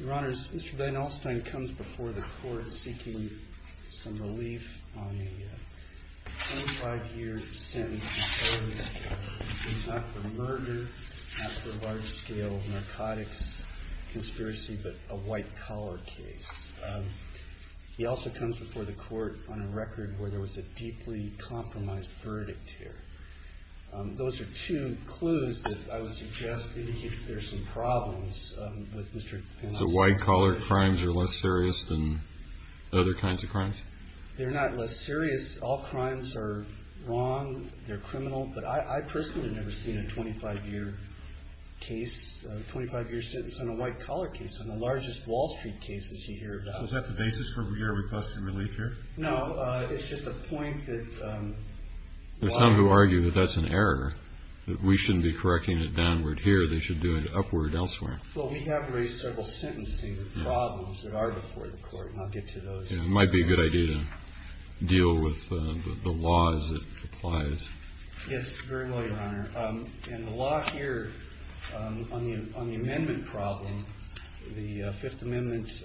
Mr. Van Alstyne comes before the court seeking some relief on a 25-year sentence for murder, not for large-scale narcotics conspiracy, but a white-collar case. He also comes before the court on a record where there was a deeply compromised verdict here. Those are two clues that I would suggest indicate that there are some problems with Mr. Van Alstyne. So white-collar crimes are less serious than other kinds of crimes? They're not less serious. All crimes are wrong. They're criminal. But I personally have never seen a 25-year case, a 25-year sentence on a white-collar case, on the largest Wall Street cases you hear about. Was that the basis for your request for relief here? No. It's just a point that... There's some who argue that that's an error, that we shouldn't be correcting it downward here. They should do it upward elsewhere. Well, we have raised several sentencing problems that are before the court, and I'll get to those. It might be a good idea to deal with the law as it applies. Yes, very well, Your Honor. And the law here on the amendment problem, the Fifth Amendment,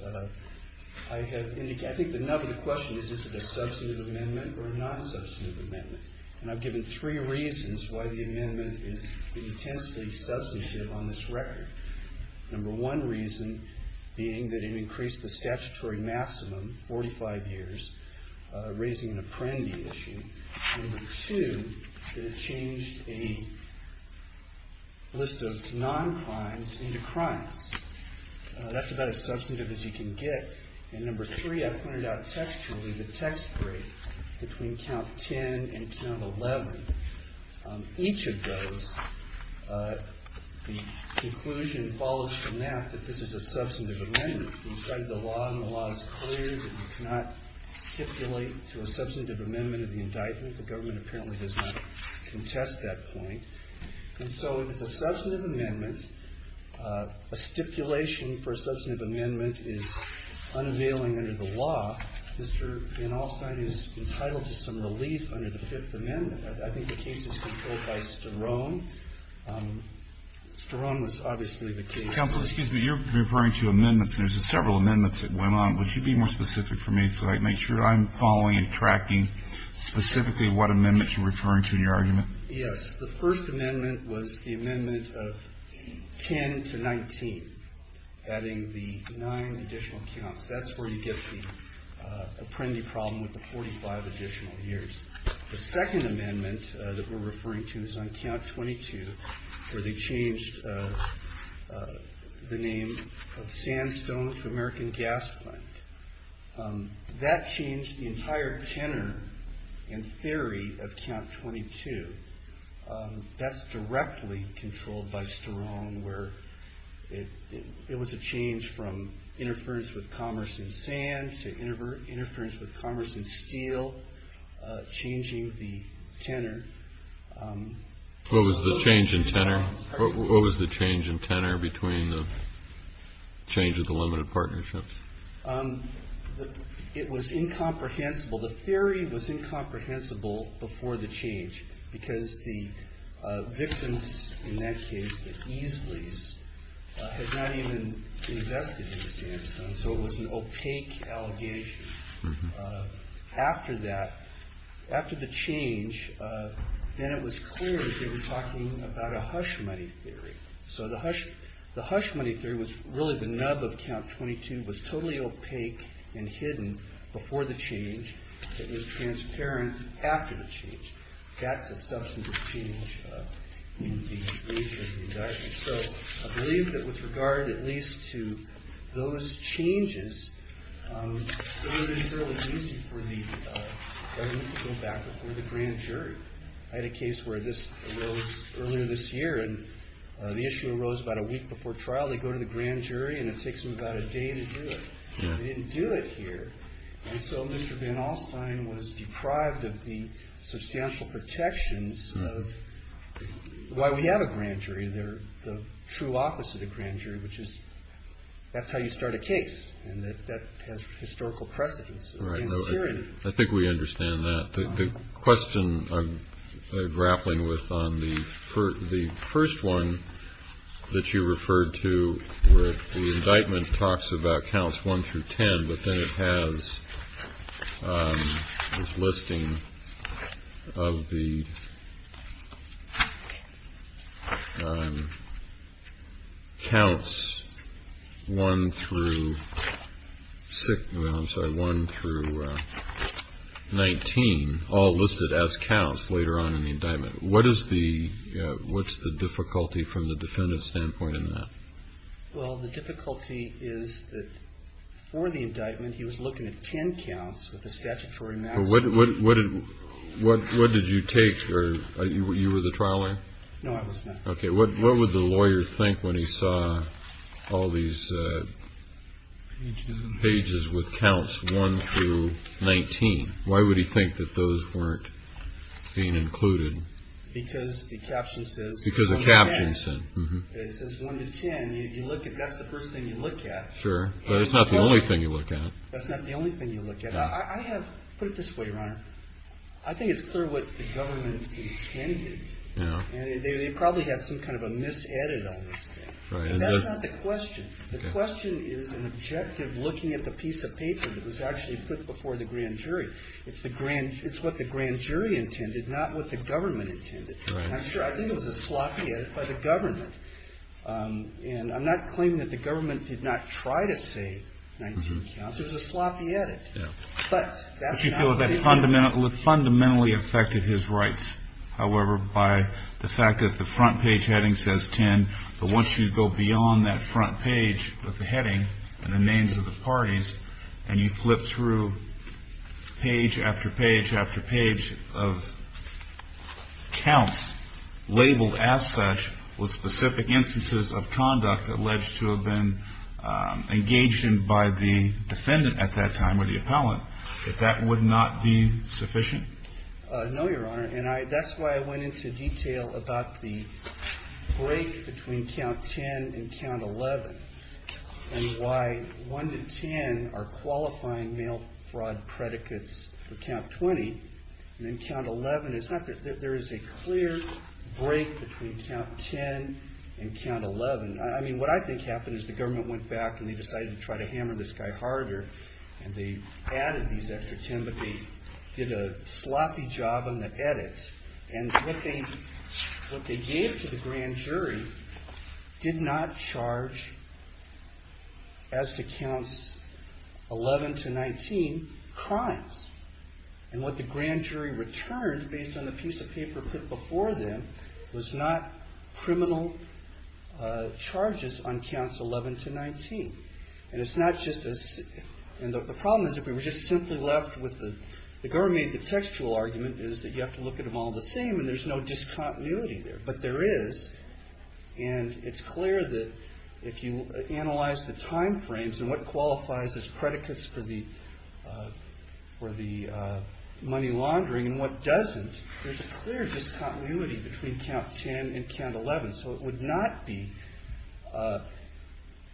I have indicated... I think the nub of the question is, is it a substantive amendment or a non-substantive amendment? And I've given three reasons why the amendment is intensely substantive on this record. Number one reason being that it increased the statutory maximum, 45 years, raising an apprendee issue. Number two, that it changed a list of non-crimes into crimes. That's about as substantive as you can get. And number three, I pointed out textually, the text break between count 10 and count 11. Each of those, the conclusion follows from that that this is a substantive amendment. Inside the law, the law is clear that you cannot stipulate to a substantive amendment of the indictment. The government apparently does not contest that point. And so if it's a substantive amendment, a stipulation for a substantive amendment is unavailing under the law. Mr. Van Alstyne is entitled to some relief under the Fifth Amendment. I think the case is controlled by Sterone. Sterone was obviously the case. Counsel, excuse me. You're referring to amendments. There's several amendments that went on. Would you be more specific for me? So I'd make sure I'm following and tracking specifically what amendments you're referring to in your argument. Yes. The First Amendment was the amendment of 10 to 19, adding the nine additional counts. That's where you get the Apprendi problem with the 45 additional years. The Second Amendment that we're referring to is on count 22, where they changed the name of Sandstone to American Gas Plant. That changed the entire tenor in theory of count 22. That's directly controlled by Sterone, where it was a change from interference with commerce in sand to interference with commerce in steel, changing the tenor. What was the change in tenor? What was the change in tenor between the change of the limited partnerships? It was incomprehensible. The theory was incomprehensible before the change because the victims in that case, the Easleys, had not even investigated Sandstone. So it was an opaque allegation. After that, after the change, then it was clear that they were talking about a hush money theory. So the hush money theory was really the nub of count 22, was totally opaque and hidden before the change. It was transparent after the change. That's a substantive change in these cases. So I believe that with regard at least to those changes, it would have been fairly easy for the government to go back before the grand jury. I had a case where this arose earlier this year, and the issue arose about a week before trial. They go to the grand jury, and it takes them about a day to do it. They didn't do it here. And so Mr. Van Alstyne was deprived of the substantial protections of why we have a grand jury. They're the true opposite of grand jury, which is that's how you start a case, and that has historical precedence in Syria. I think we understand that. The question I'm grappling with on the first one that you referred to where the indictment talks about counts 1 through 10, but then it has this listing of the counts 1 through 19, all listed as counts later on in the indictment. What's the difficulty from the defendant's standpoint in that? Well, the difficulty is that for the indictment, he was looking at 10 counts with the statutory maximum. What did you take? You were the trial lawyer? No, I was not. Okay. What would the lawyer think when he saw all these pages with counts 1 through 19? Why would he think that those weren't being included? Because the caption says 1 to 10. Because the caption said. It says 1 to 10. That's the first thing you look at. Sure, but it's not the only thing you look at. That's not the only thing you look at. Put it this way, Your Honor. I think it's clear what the government intended, and they probably had some kind of a mis-edit on this thing. That's not the question. The question is an objective looking at the piece of paper that was actually put before the grand jury. It's what the grand jury intended, not what the government intended. I'm sure. I think it was a sloppy edit by the government. And I'm not claiming that the government did not try to say 19 counts. It was a sloppy edit. But that's not what they did. But you feel that fundamentally affected his rights, however, by the fact that the front page heading says 10, but once you go beyond that front page with the heading and the names of the parties and you flip through page after page after page of counts labeled as such with specific instances of conduct alleged to have been engaged in by the defendant at that time or the appellant, that that would not be sufficient? No, Your Honor. And that's why I went into detail about the break between count 10 and count 11 and why 1 to 10 are qualifying mail fraud predicates for count 20 and then count 11. It's not that there is a clear break between count 10 and count 11. I mean, what I think happened is the government went back and they decided to try to hammer this guy harder, and they added these extra 10, but they did a sloppy job on the edit. And what they gave to the grand jury did not charge, as to counts 11 to 19, crimes. And what the grand jury returned, based on the piece of paper put before them, was not criminal charges on counts 11 to 19. And the problem is if we were just simply left with the government made the textual argument is that you have to look at them all the same and there's no discontinuity there. But there is. And it's clear that if you analyze the time frames and what qualifies as predicates for the money laundering and what doesn't, there's a clear discontinuity between count 10 and count 11. So it would not be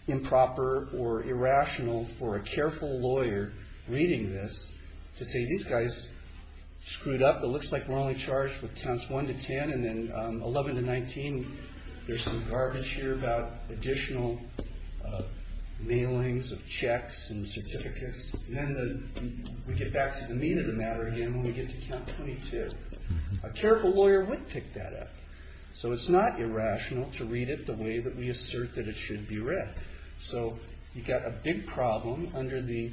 improper or irrational for a careful lawyer reading this to say these guys screwed up. It looks like we're only charged with counts 1 to 10 and then 11 to 19. There's some garbage here about additional mailings of checks and certificates. And then we get back to the mean of the matter again when we get to count 22. A careful lawyer would pick that up. So it's not irrational to read it the way that we assert that it should be read. So you've got a big problem under the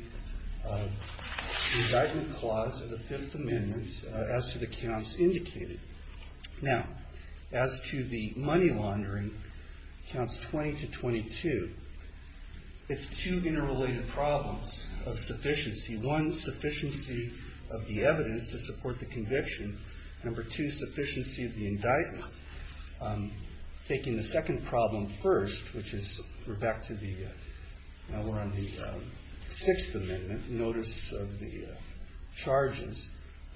indictment clause of the Fifth Amendment as to the counts indicated. Now, as to the money laundering, counts 20 to 22, it's two interrelated problems of sufficiency. One, sufficiency of the evidence to support the conviction. Number two, sufficiency of the indictment. Taking the second problem first, which is we're back to the, now we're on the Sixth Amendment, notice of the charges.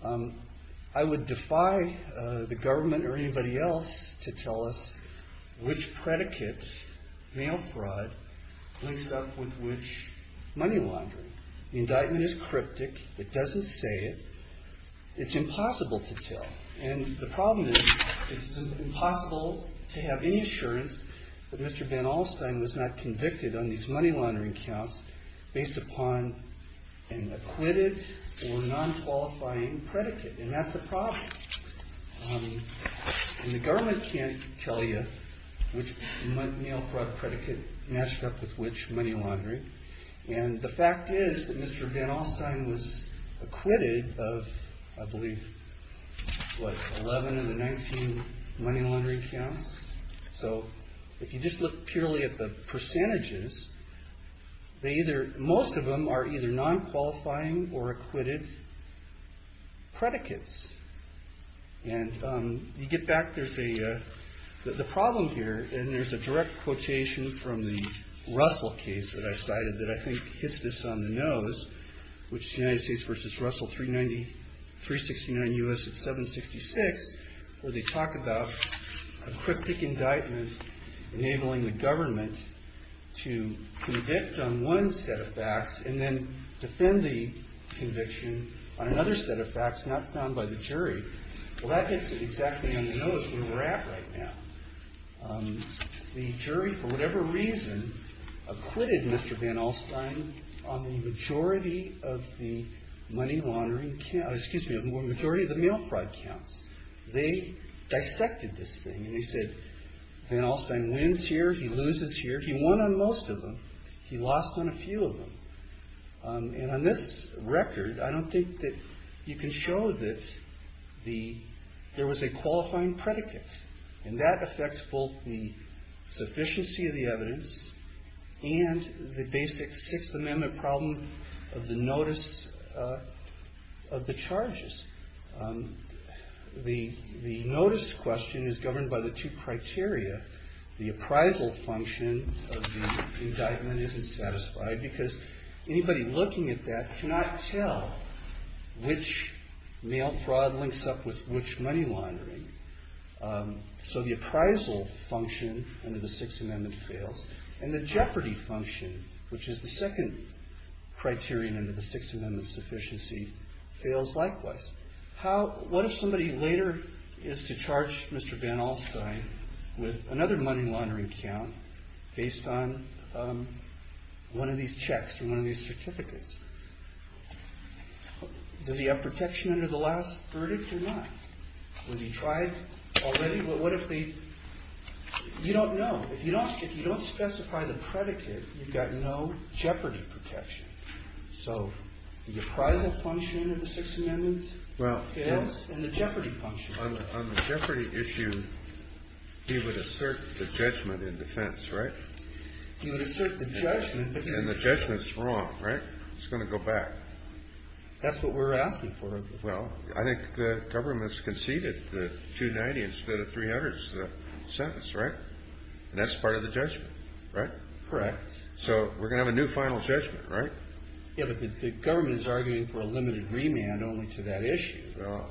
I would defy the government or anybody else to tell us which predicates mail fraud links up with which money laundering. The indictment is cryptic. It doesn't say it. It's impossible to tell. And the problem is it's impossible to have any assurance that Mr. Ben Alstein was not convicted on these money laundering counts based upon an acquitted or non-qualifying predicate. And that's the problem. And the government can't tell you which mail fraud predicate matched up with which money laundering. And the fact is that Mr. Ben Alstein was acquitted of, I believe, what, 11 of the 19 money laundering counts? So if you just look purely at the percentages, they either, most of them are either non-qualifying or acquitted predicates. And you get back, there's a, the problem here, and there's a direct quotation from the Russell case that I cited that I think hits this on the nose, which is United States v. Russell, 390, 369 U.S. at 766, where they talk about a cryptic indictment enabling the government to convict on one set of facts and then defend the conviction on another set of facts not found by the jury. Well, that hits it exactly on the nose where we're at right now. The jury, for whatever reason, acquitted Mr. Ben Alstein on the majority of the money laundering, excuse me, majority of the mail fraud counts. They dissected this thing and they said, Ben Alstein wins here, he loses here. He won on most of them. He lost on a few of them. And on this record, I don't think that you can show that the, there was a qualifying predicate. And that affects both the sufficiency of the evidence and the basic Sixth Amendment problem of the notice of the charges. The notice question is governed by the two criteria. The appraisal function of the indictment isn't satisfied because anybody looking at that cannot tell which mail fraud links up with which money laundering. So the appraisal function under the Sixth Amendment fails. And the jeopardy function, which is the second criterion under the Sixth Amendment sufficiency, fails likewise. What if somebody later is to charge Mr. Ben Alstein with another money laundering count based on one of these checks or one of these certificates? Does he have protection under the last verdict or not? Would he try it already? What if the, you don't know. If you don't specify the predicate, you've got no jeopardy protection. So the appraisal function of the Sixth Amendment fails and the jeopardy function fails. On the jeopardy issue, he would assert the judgment in defense, right? He would assert the judgment. And the judgment's wrong, right? It's going to go back. That's what we're asking for. Well, I think the government's conceded the $290 instead of $300 sentence, right? And that's part of the judgment, right? Correct. So we're going to have a new final judgment, right? Yeah, but the government is arguing for a limited remand only to that issue. Well,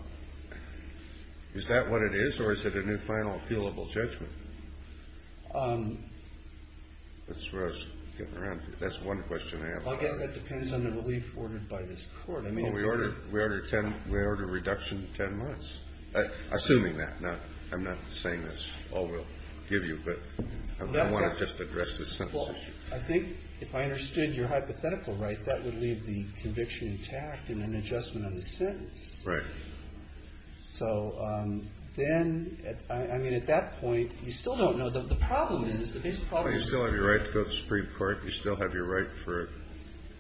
is that what it is or is it a new final appealable judgment? That's what I was getting around to. That's one question I have. I guess that depends on the relief ordered by this court. We ordered a reduction of 10 months, assuming that. I'm not saying that's all we'll give you, but I want to just address the sentence issue. Well, I think if I understood your hypothetical right, that would leave the conviction intact and an adjustment on the sentence. Right. So then, I mean, at that point, you still don't know. The problem is, the basic problem is you still have your right to go to the Supreme Court. You still have your right for a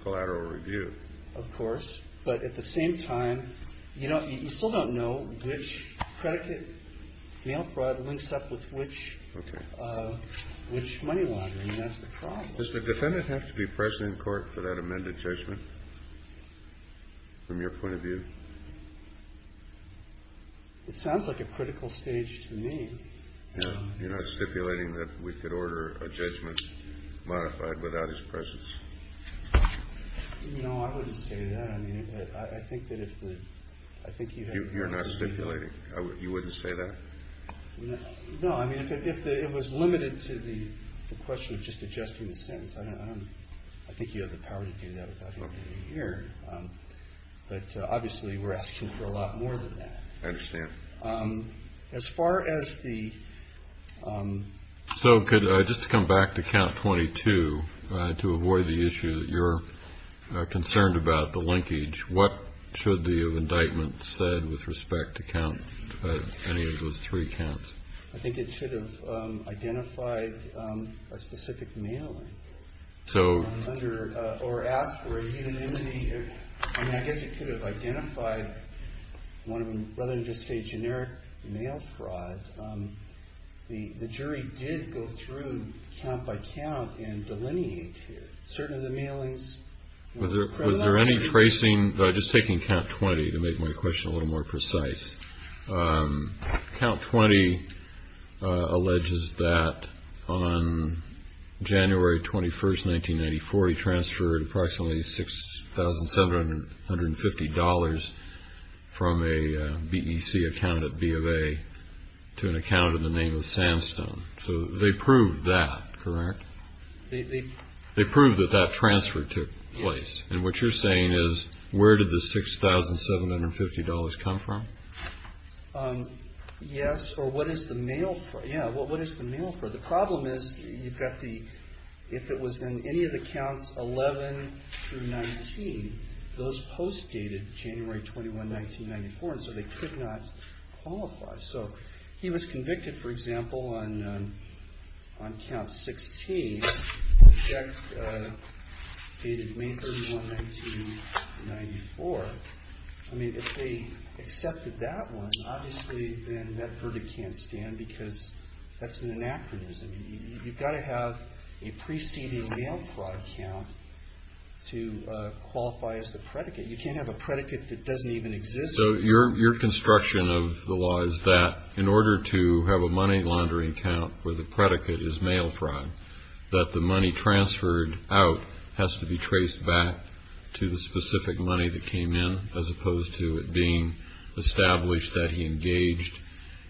collateral review. Of course. But at the same time, you still don't know which predicate mail fraud links up with which money laundering. That's the problem. Does the defendant have to be present in court for that amended judgment from your point of view? It sounds like a critical stage to me. You're not stipulating that we could order a judgment modified without his presence. No, I wouldn't say that. I mean, I think that if the ‑‑I think you have ‑‑ You're not stipulating. You wouldn't say that? No. I mean, if it was limited to the question of just adjusting the sentence, I think you have the power to do that without him being here. But, obviously, we're asking for a lot more than that. I understand. As far as the ‑‑ So, just to come back to count 22, to avoid the issue that you're concerned about, the linkage, what should the indictment said with respect to count any of those three counts? I think it should have identified a specific mailing. So ‑‑ Or asked for a unanimity. I mean, I guess it could have identified one of them. Rather than just say generic mail fraud, the jury did go through count by count and delineate certain of the mailings. Was there any tracing? Just taking count 20 to make my question a little more precise. Count 20 alleges that on January 21st, 1994, he transferred approximately $6,750 from a BEC account at B of A to an account in the name of Sandstone. So they proved that, correct? They proved that that transfer took place. And what you're saying is, where did the $6,750 come from? Yes, or what is the mail for? Yeah, well, what is the mail for? The problem is, you've got the, if it was in any of the counts 11 through 19, those posts dated January 21, 1994, and so they could not qualify. So he was convicted, for example, on count 16, a check dated May 31, 1994. I mean, if they accepted that one, obviously then that verdict can't stand because that's an anachronism. You've got to have a preceding mail fraud count to qualify as the predicate. You can't have a predicate that doesn't even exist. So your construction of the law is that in order to have a money laundering count where the predicate is mail fraud, that the money transferred out has to be traced back to the specific money that came in as opposed to it being established that he engaged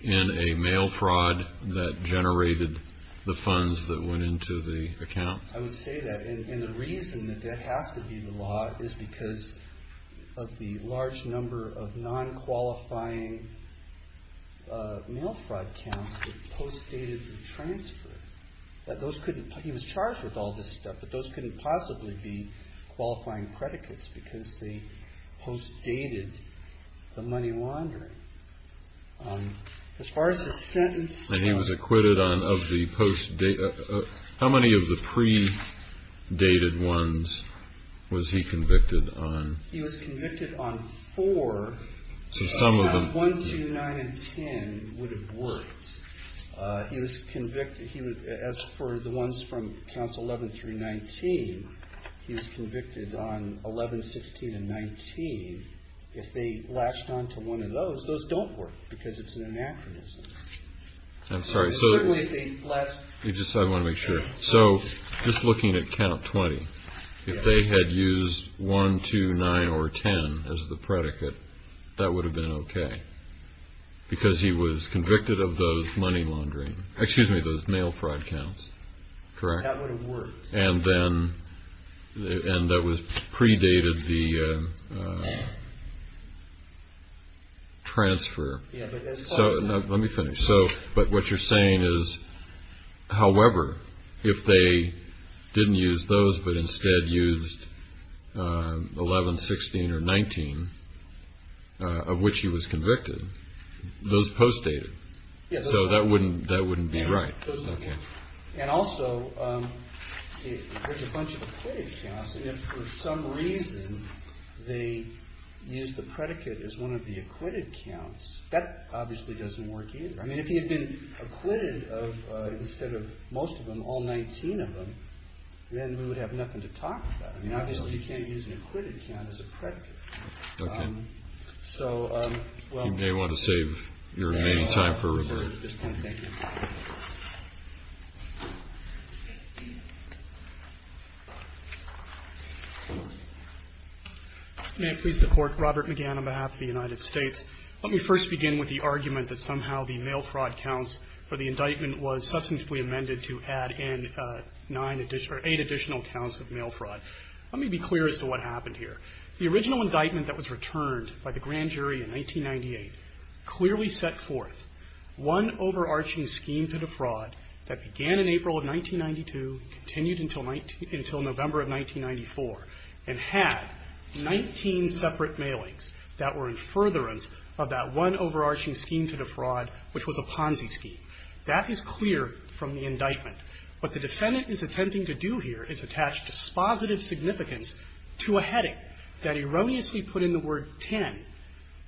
in a mail fraud that generated the funds that went into the account? I would say that. And the reason that that has to be the law is because of the large number of non-qualifying mail fraud counts that post dated the transfer. That those couldn't, he was charged with all this stuff, but those couldn't possibly be qualifying predicates because they post dated the money laundering. As far as his sentence. And he was acquitted of the post date. How many of the predated ones was he convicted on? He was convicted on four. So some of them. One, two, nine, and ten would have worked. He was convicted, as for the ones from counts 11 through 19, he was convicted on 11, 16, and 19. If they latched on to one of those, those don't work because it's an anachronism. I'm sorry. Certainly if they latched. I want to make sure. So just looking at count 20, if they had used one, two, nine, or ten, as the predicate, that would have been okay. Because he was convicted of those money laundering, excuse me, those mail fraud counts. Correct? That would have worked. And that predated the transfer. Let me finish. But what you're saying is, however, if they didn't use those, but instead used 11, 16, or 19, of which he was convicted, those post dated. So that wouldn't be right. And also, there's a bunch of acquitted counts, and if for some reason they used the predicate as one of the acquitted counts, that obviously doesn't work either. I mean, if he had been acquitted of, instead of most of them, all 19 of them, then we would have nothing to talk about. I mean, obviously you can't use an acquitted count as a predicate. Okay. So, well. You may want to save your remaining time for rebuttal. Thank you. May it please the Court. Robert McGann on behalf of the United States. Let me first begin with the argument that somehow the mail fraud counts for the indictment was substantively amended to add in eight additional counts of mail fraud. Let me be clear as to what happened here. The original indictment that was returned by the grand jury in 1998 clearly set forth one overarching scheme to defraud that began in April of 1992, continued until November of 1994, and had 19 separate mailings that were in furtherance of that one overarching scheme to defraud, which was a Ponzi scheme. That is clear from the indictment. What the defendant is attempting to do here is attach dispositive significance to a heading that erroneously put in the word 10. It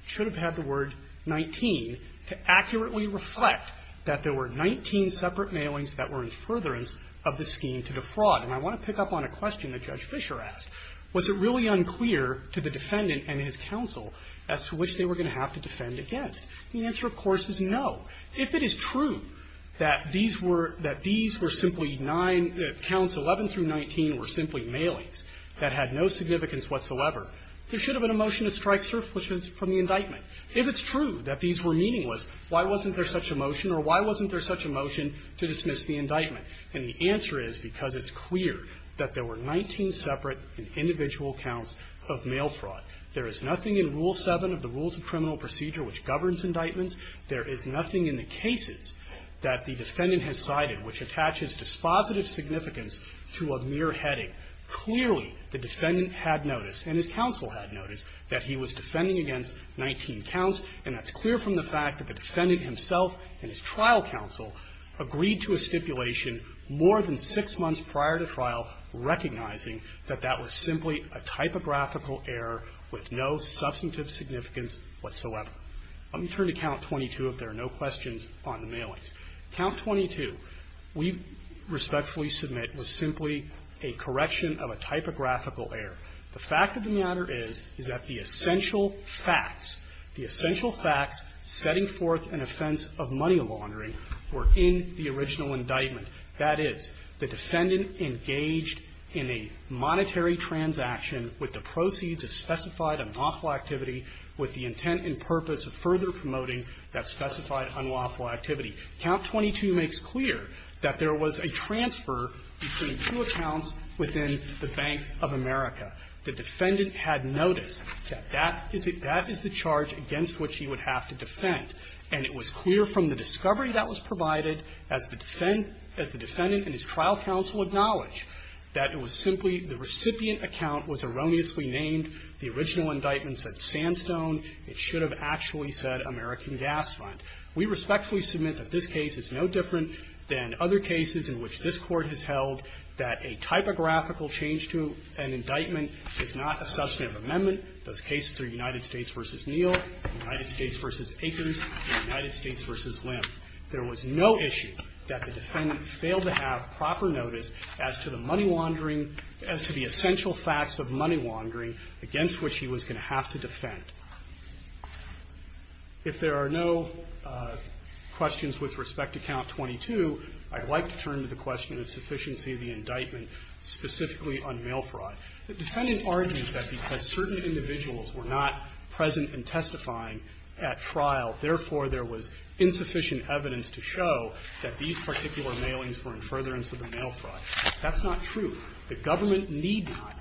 should have had the word 19 to accurately reflect that there were 19 separate mailings that were in furtherance of the scheme to defraud. And I want to pick up on a question that Judge Fischer asked. Was it really unclear to the defendant and his counsel as to which they were going to have to defend against? The answer, of course, is no. If it is true that these were – that these were simply nine – that counts 11 through 19 were simply mailings that had no significance whatsoever, there should have been a motion to strike surpluses from the indictment. If it's true that these were meaningless, why wasn't there such a motion or why wasn't there such a motion to dismiss the indictment? And the answer is because it's clear that there were 19 separate and individual counts of mail fraud. There is nothing in Rule 7 of the Rules of Criminal Procedure which governs indictments. There is nothing in the cases that the defendant has cited which attaches dispositive significance to a mere heading. Clearly, the defendant had noticed, and his counsel had noticed, that he was defending against 19 counts, and that's clear from the fact that the defendant himself and his trial counsel agreed to a stipulation more than six months prior to trial recognizing that that was simply a typographical error with no substantive significance whatsoever. Let me turn to Count 22, if there are no questions on the mailings. Count 22 we respectfully submit was simply a correction of a typographical error. The fact of the matter is, is that the essential facts, the essential facts setting forth an offense of money laundering were in the original indictment. That is, the defendant engaged in a monetary transaction with the proceeds of specified unlawful activity with the intent and purpose of further promoting that specified unlawful activity. Count 22 makes clear that there was a transfer between two accounts within the Bank of America. The defendant had noticed that that is the charge against which he would have to defend, and it was clear from the discovery that was provided as the defendant and his trial counsel acknowledged that it was simply the recipient account was erroneously named. The original indictment said Sandstone. It should have actually said American Gas Fund. We respectfully submit that this case is no different than other cases in which this Court has held that a typographical change to an indictment is not a substantive amendment. Those cases are United States v. Neal, United States v. Akins, and United States v. Lim. There was no issue that the defendant failed to have proper notice as to the money laundering as to the essential facts of money laundering against which he was going to have to defend. If there are no questions with respect to Count 22, I'd like to turn to the question of sufficiency of the indictment specifically on mail fraud. The defendant argues that because certain individuals were not present and testifying at trial, therefore, there was insufficient evidence to show that these particular mailings were in furtherance of the mail fraud. That's not true. The government need not,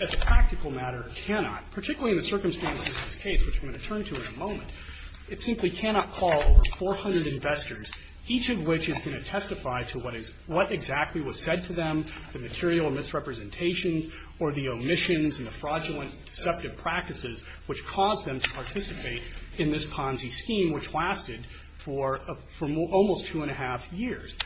as a practical matter, cannot, particularly in the circumstances of this case, which I'm going to turn to in a moment, it simply cannot call over 400 investors, each of which is going to testify to what is what exactly was said to them, the material misrepresentations or the omissions and the fraudulent deceptive practices which caused them to participate in this Ponzi scheme, which lasted for almost two and a half years.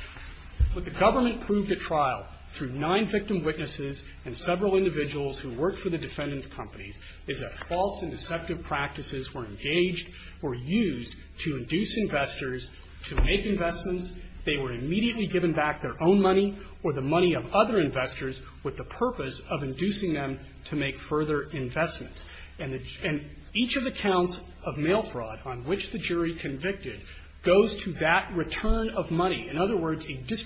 But the government proved at trial, through nine victim witnesses and several individuals who worked for the defendant's companies, is that false and deceptive practices were engaged, were used to induce investors to make investments. They were immediately given back their own money or the money of other investors with the purpose of inducing them to make further investments. And each of the counts of mail fraud on which the jury convicted goes to that return of money. In other words, it was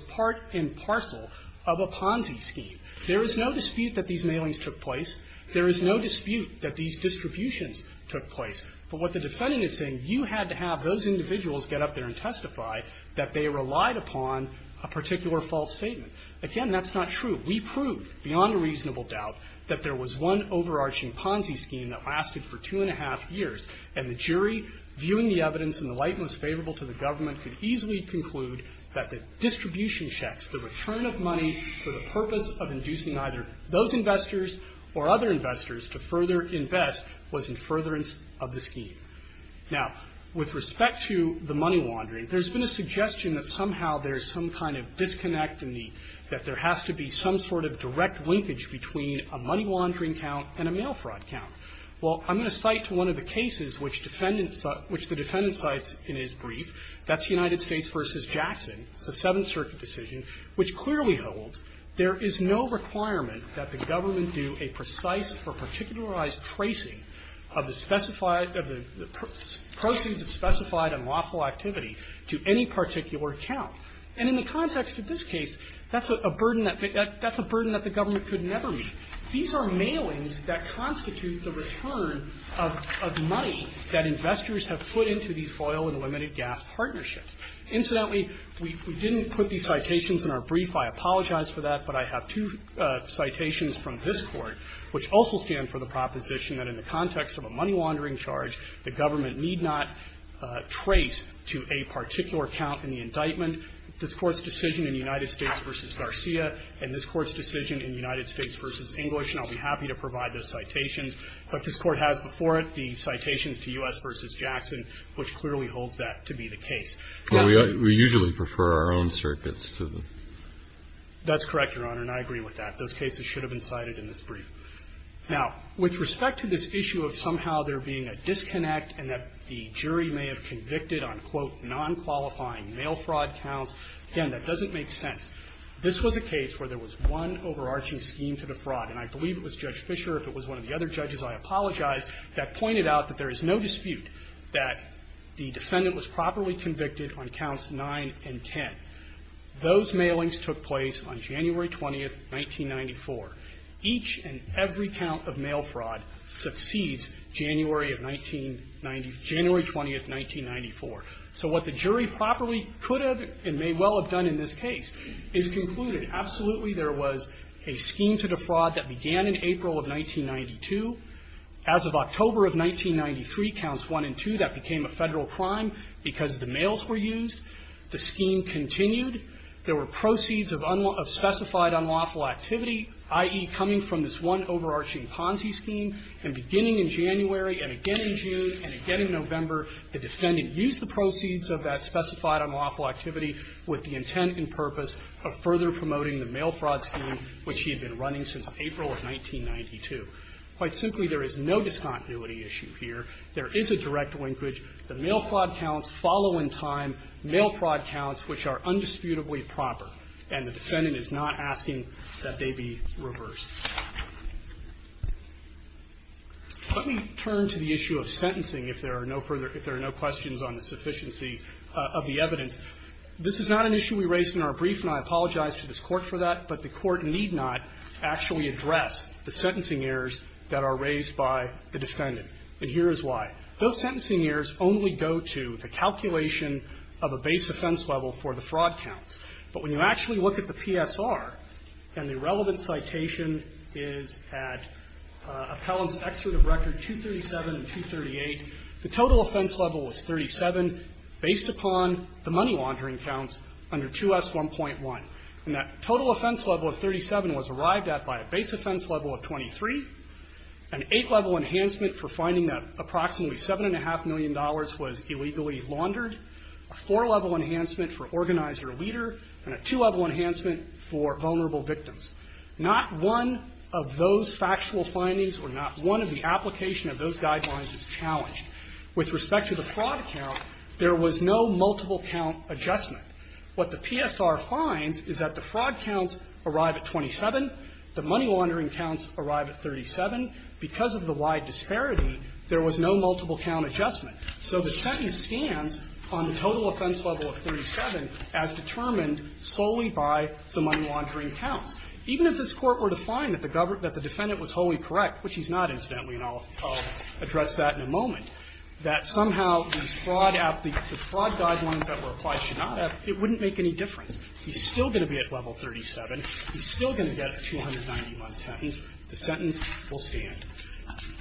part and parcel of a Ponzi scheme. There is no dispute that these mailings took place. There is no dispute that these distributions took place. But what the defendant is saying, you had to have those individuals get up there and testify that they relied upon a particular false statement. Again, that's not true. We proved, beyond a reasonable doubt, that there was one overarching Ponzi scheme that lasted for two and a half years. And the jury, viewing the evidence in the light most favorable to the government, could easily conclude that the distribution checks, the return of money for the purpose of inducing either those investors or other investors to further invest, was in furtherance of the scheme. Now, with respect to the money laundering, there's been a suggestion that somehow there's some kind of disconnect in the – that there has to be some sort of direct linkage between a money laundering count and a mail fraud count. Well, I'm going to cite one of the cases which defendants – which the defendant cites in his brief. That's the United States v. Jackson. It's a Seventh Circuit decision which clearly holds there is no requirement that the government do a precise or particularized tracing of the specified – of the proceeds of specified unlawful activity to any particular count. And in the context of this case, that's a burden that – that's a burden that the government could never meet. These are mailings that constitute the return of money that investors have put into these foil and limited gas partnerships. Incidentally, we didn't put these citations in our brief. I apologize for that, but I have two citations from this Court which also stand for the proposition that in the context of a money laundering charge, the government need not trace to a particular count in the indictment. This Court's decision in the United States v. Garcia and this Court's decision in the United States v. English, and I'll be happy to provide those citations. But this Court has before it the citations to U.S. v. Jackson, which clearly holds that to be the case. Now – Kennedy. Well, we – we usually prefer our own circuits to the – Waxman. That's correct, Your Honor, and I agree with that. Those cases should have been cited in this brief. Now, with respect to this issue of somehow there being a disconnect and that the jury may have convicted on, quote, nonqualifying mail fraud counts, again, that doesn't make sense. This was a case where there was one overarching scheme to the fraud, and I believe it was Judge Fischer, if it was one of the other judges, I apologize, that pointed out that there is no dispute that the defendant was properly convicted on counts 9 and 10. Those mailings took place on January 20, 1994. Each and every count of mail fraud succeeds January of 1990 – January 20, 1994. So what the jury properly could have and may well have done in this case is concluded, absolutely, there was a scheme to the fraud that began in April of 1992. As of October of 1993, counts 1 and 2, that became a Federal crime because the mails were used. The scheme continued. There were proceeds of specified unlawful activity, i.e., coming from this one overarching Ponzi scheme and beginning in January and again in June and again in November, the defendant used the proceeds of that specified unlawful activity with the intent and purpose of further promoting the mail fraud scheme, which he had been running since April of 1992. Quite simply, there is no discontinuity issue here. There is a direct linkage. The mail fraud counts follow in time mail fraud counts, which are undisputably proper, and the defendant is not asking that they be reversed. Let me turn to the issue of sentencing, if there are no further – if there are no questions on the sufficiency of the evidence. This is not an issue we raised in our brief, and I apologize to this Court for that, but the Court need not actually address the sentencing errors that are raised by the defendant. And here is why. Those sentencing errors only go to the calculation of a base offense level for the fraud counts. But when you actually look at the PSR, and the relevant citation is at Appellant's Excerpt of Record 237 and 238, the total offense level was 37 based upon the money laundering counts under 2S1.1. And that total offense level of 37 was arrived at by a base offense level of 23, an eight-level enhancement for finding that approximately $7.5 million was illegally laundered, a four-level enhancement for organized or leader, and a two-level enhancement for vulnerable victims. Not one of those factual findings or not one of the application of those guidelines is challenged. With respect to the fraud count, there was no multiple count adjustment. What the PSR finds is that the fraud counts arrive at 27, the money laundering counts arrive at 37. Because of the wide disparity, there was no multiple count adjustment. So the sentence stands on the total offense level of 37 as determined solely by the money laundering counts. Even if this Court were to find that the defendant was wholly correct, which he's not, incidentally, and I'll address that in a moment, that somehow the fraud guidelines that were applied should not have, it wouldn't make any difference. He's still going to be at level 37. He's still going to get a 291 sentence. The sentence will stand.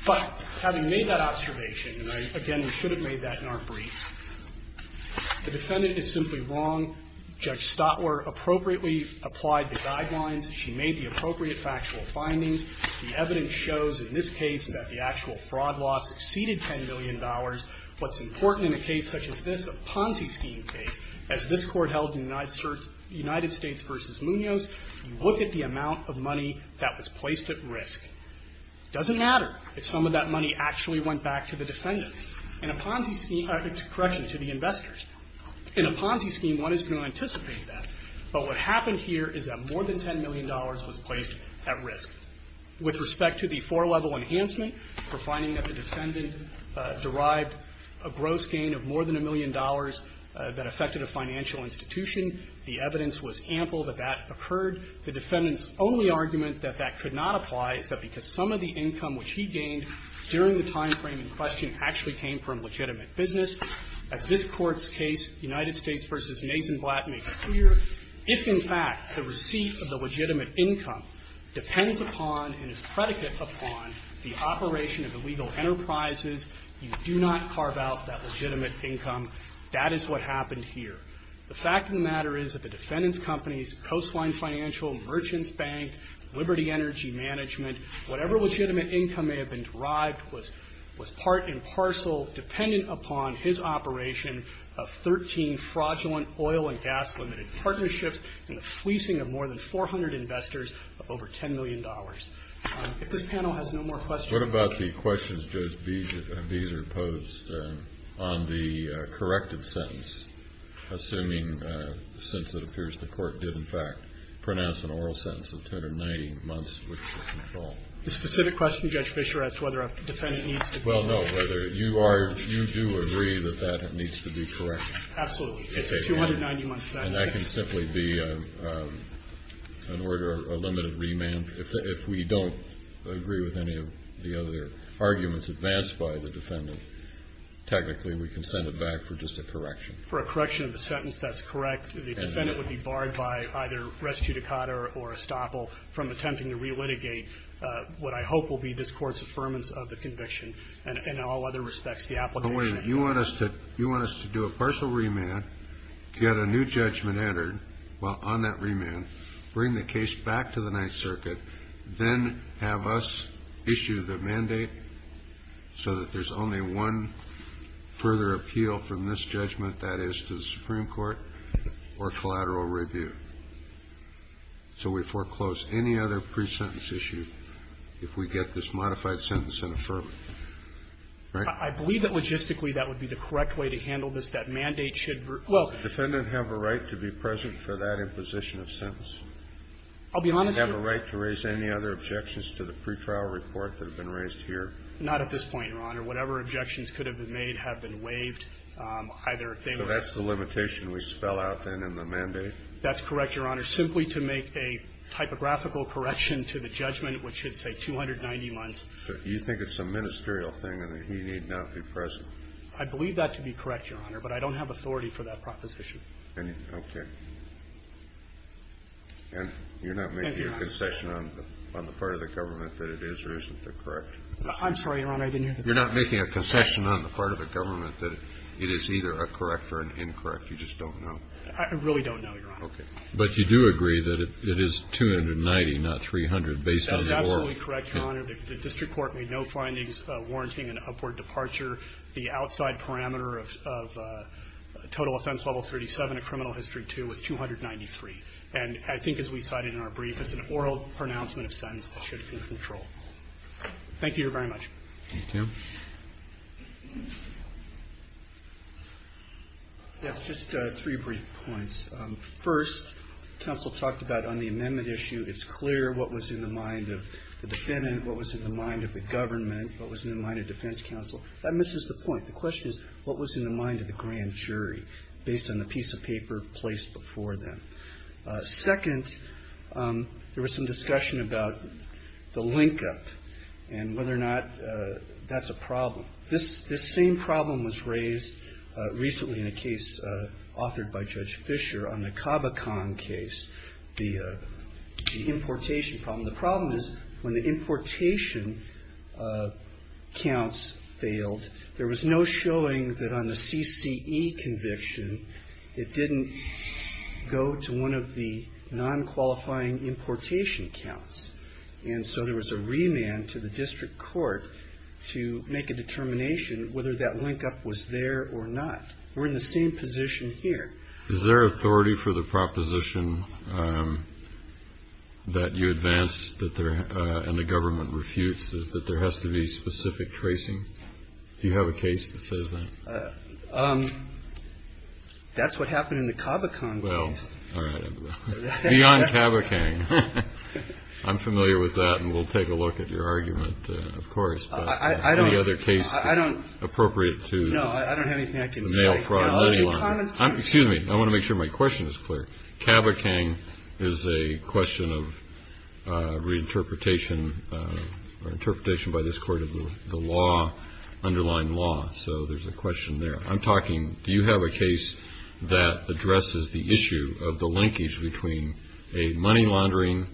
But having made that observation, and I, again, we should have made that in our brief, the defendant is simply wrong. Judge Stotler appropriately applied the guidelines. She made the appropriate factual findings. The evidence shows in this case that the actual fraud loss exceeded $10 million. What's important in a case such as this, a Ponzi scheme case, as this Court held in United States v. Munoz, you look at the amount of money that was placed at risk. It doesn't matter if some of that money actually went back to the defendants. In a Ponzi scheme, correction, to the investors. In a Ponzi scheme, one is going to anticipate that. But what happened here is that more than $10 million was placed at risk. With respect to the four-level enhancement, we're finding that the defendant derived a gross gain of more than a million dollars that affected a financial institution. The evidence was ample that that occurred. The defendant's only argument that that could not apply is that because some of the income which he gained during the timeframe in question actually came from legitimate business. As this Court's predicate upon the operation of illegal enterprises, you do not carve out that legitimate income. That is what happened here. The fact of the matter is that the defendant's companies, Coastline Financial, Merchants Bank, Liberty Energy Management, whatever legitimate income may have been derived was part and parcel dependent upon his operation of 13 fraudulent oil and gas-limited partnerships and the fleecing of more than 400 investors of over $10 million. If this panel has no more questions... What about the questions, Judge Beazer, posed on the corrective sentence, assuming since it appears the Court did, in fact, pronounce an oral sentence of 290 months which is in full? The specific question, Judge Fischer, as to whether a defendant needs to be... Well, no, whether you are... you do agree that that needs to be corrected. Absolutely. It's a 290-month sentence. And that can simply be an order, a limited remand. If we don't agree with any of the other arguments advanced by the defendant, technically we can send it back for just a correction. For a correction of the sentence, that's correct. The defendant would be barred by either res judicata or estoppel from attempting to relitigate what I hope will be this Court's affirmance of the conviction. And in all other respects, the application... get a new judgment entered on that remand, bring the case back to the Ninth Circuit, then have us issue the mandate so that there's only one further appeal from this judgment, that is, to the Supreme Court or collateral review. So we foreclose any other pre-sentence issue if we get this modified sentence in affirmative. Right? I believe that logistically that would be the correct way to handle this. That mandate should... Does the defendant have a right to be present for that imposition of sentence? I'll be honest... Does he have a right to raise any other objections to the pretrial report that have been raised here? Not at this point, Your Honor. Whatever objections could have been made have been waived. Either they were... So that's the limitation we spell out then in the mandate? That's correct, Your Honor. Simply to make a typographical correction to the judgment, which should say 290 months. So you think it's a ministerial thing and that he need not be present? I believe that to be correct, Your Honor, but I don't have authority for that proposition. Okay. And you're not making a concession on the part of the government that it is or isn't the correct? I'm sorry, Your Honor. I didn't hear the question. You're not making a concession on the part of the government that it is either a correct or an incorrect. You just don't know. I really don't know, Your Honor. Okay. But you do agree that it is 290, not 300, based on the warrant? That is absolutely correct, Your Honor. The district court made no findings warranting an upward departure. The outside parameter of total offense level 37 in criminal history 2 was 293. And I think as we cited in our brief, it's an oral pronouncement of sentence that should be in control. Thank you very much. Thank you. Yes, just three brief points. First, counsel talked about on the amendment issue, it's clear what was in the mind of the defendant, what was in the mind of the government, what was in the mind of defense counsel. That misses the point. The question is what was in the mind of the grand jury based on the piece of paper placed before them. Second, there was some discussion about the linkup and whether or not that's a problem. This same problem was raised recently in a case authored by Judge Fisher on the importation problem. The problem is when the importation counts failed, there was no showing that on the CCE conviction it didn't go to one of the nonqualifying importation counts. And so there was a remand to the district court to make a determination whether that linkup was there or not. We're in the same position here. Is there authority for the proposition that you advanced and the government refutes, is that there has to be specific tracing? Do you have a case that says that? That's what happened in the Cabocon case. Well, all right. Beyond Cabocon. I'm familiar with that, and we'll take a look at your argument, of course. Any other case appropriate to the mail fraud? Excuse me. I want to make sure my question is clear. Cabocon is a question of reinterpretation or interpretation by this Court of the law, underlying law, so there's a question there. I'm talking, do you have a case that addresses the issue of the linkage between a money laundering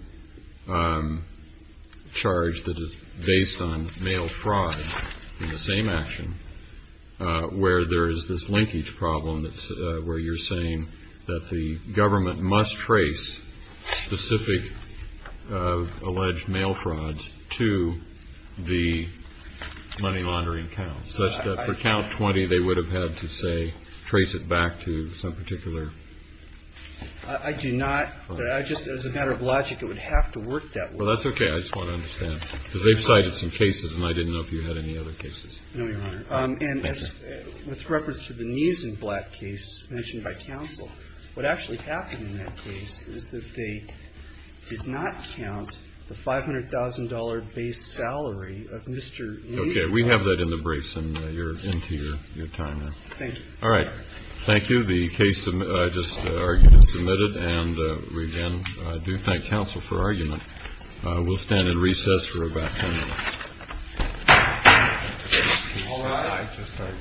charge that is based on mail fraud in the same action where there is this linkage problem where you're saying that the government must trace specific alleged mail fraud to the money laundering count, such that for count 20 they would have had to, say, trace it back to some particular? I do not. As a matter of logic, it would have to work that way. Well, that's okay. I just want to understand. Because they've cited some cases, and I didn't know if you had any other cases. No, Your Honor. Thank you. And with reference to the Neeson Black case mentioned by counsel, what actually happened in that case is that they did not count the $500,000 base salary of Mr. Neeson. Okay. We have that in the briefs, and you're into your time now. Thank you. All right. Thank you. The case I just argued is submitted, and, again, I do thank counsel for argument. We'll stand in recess for about 10 minutes. All right.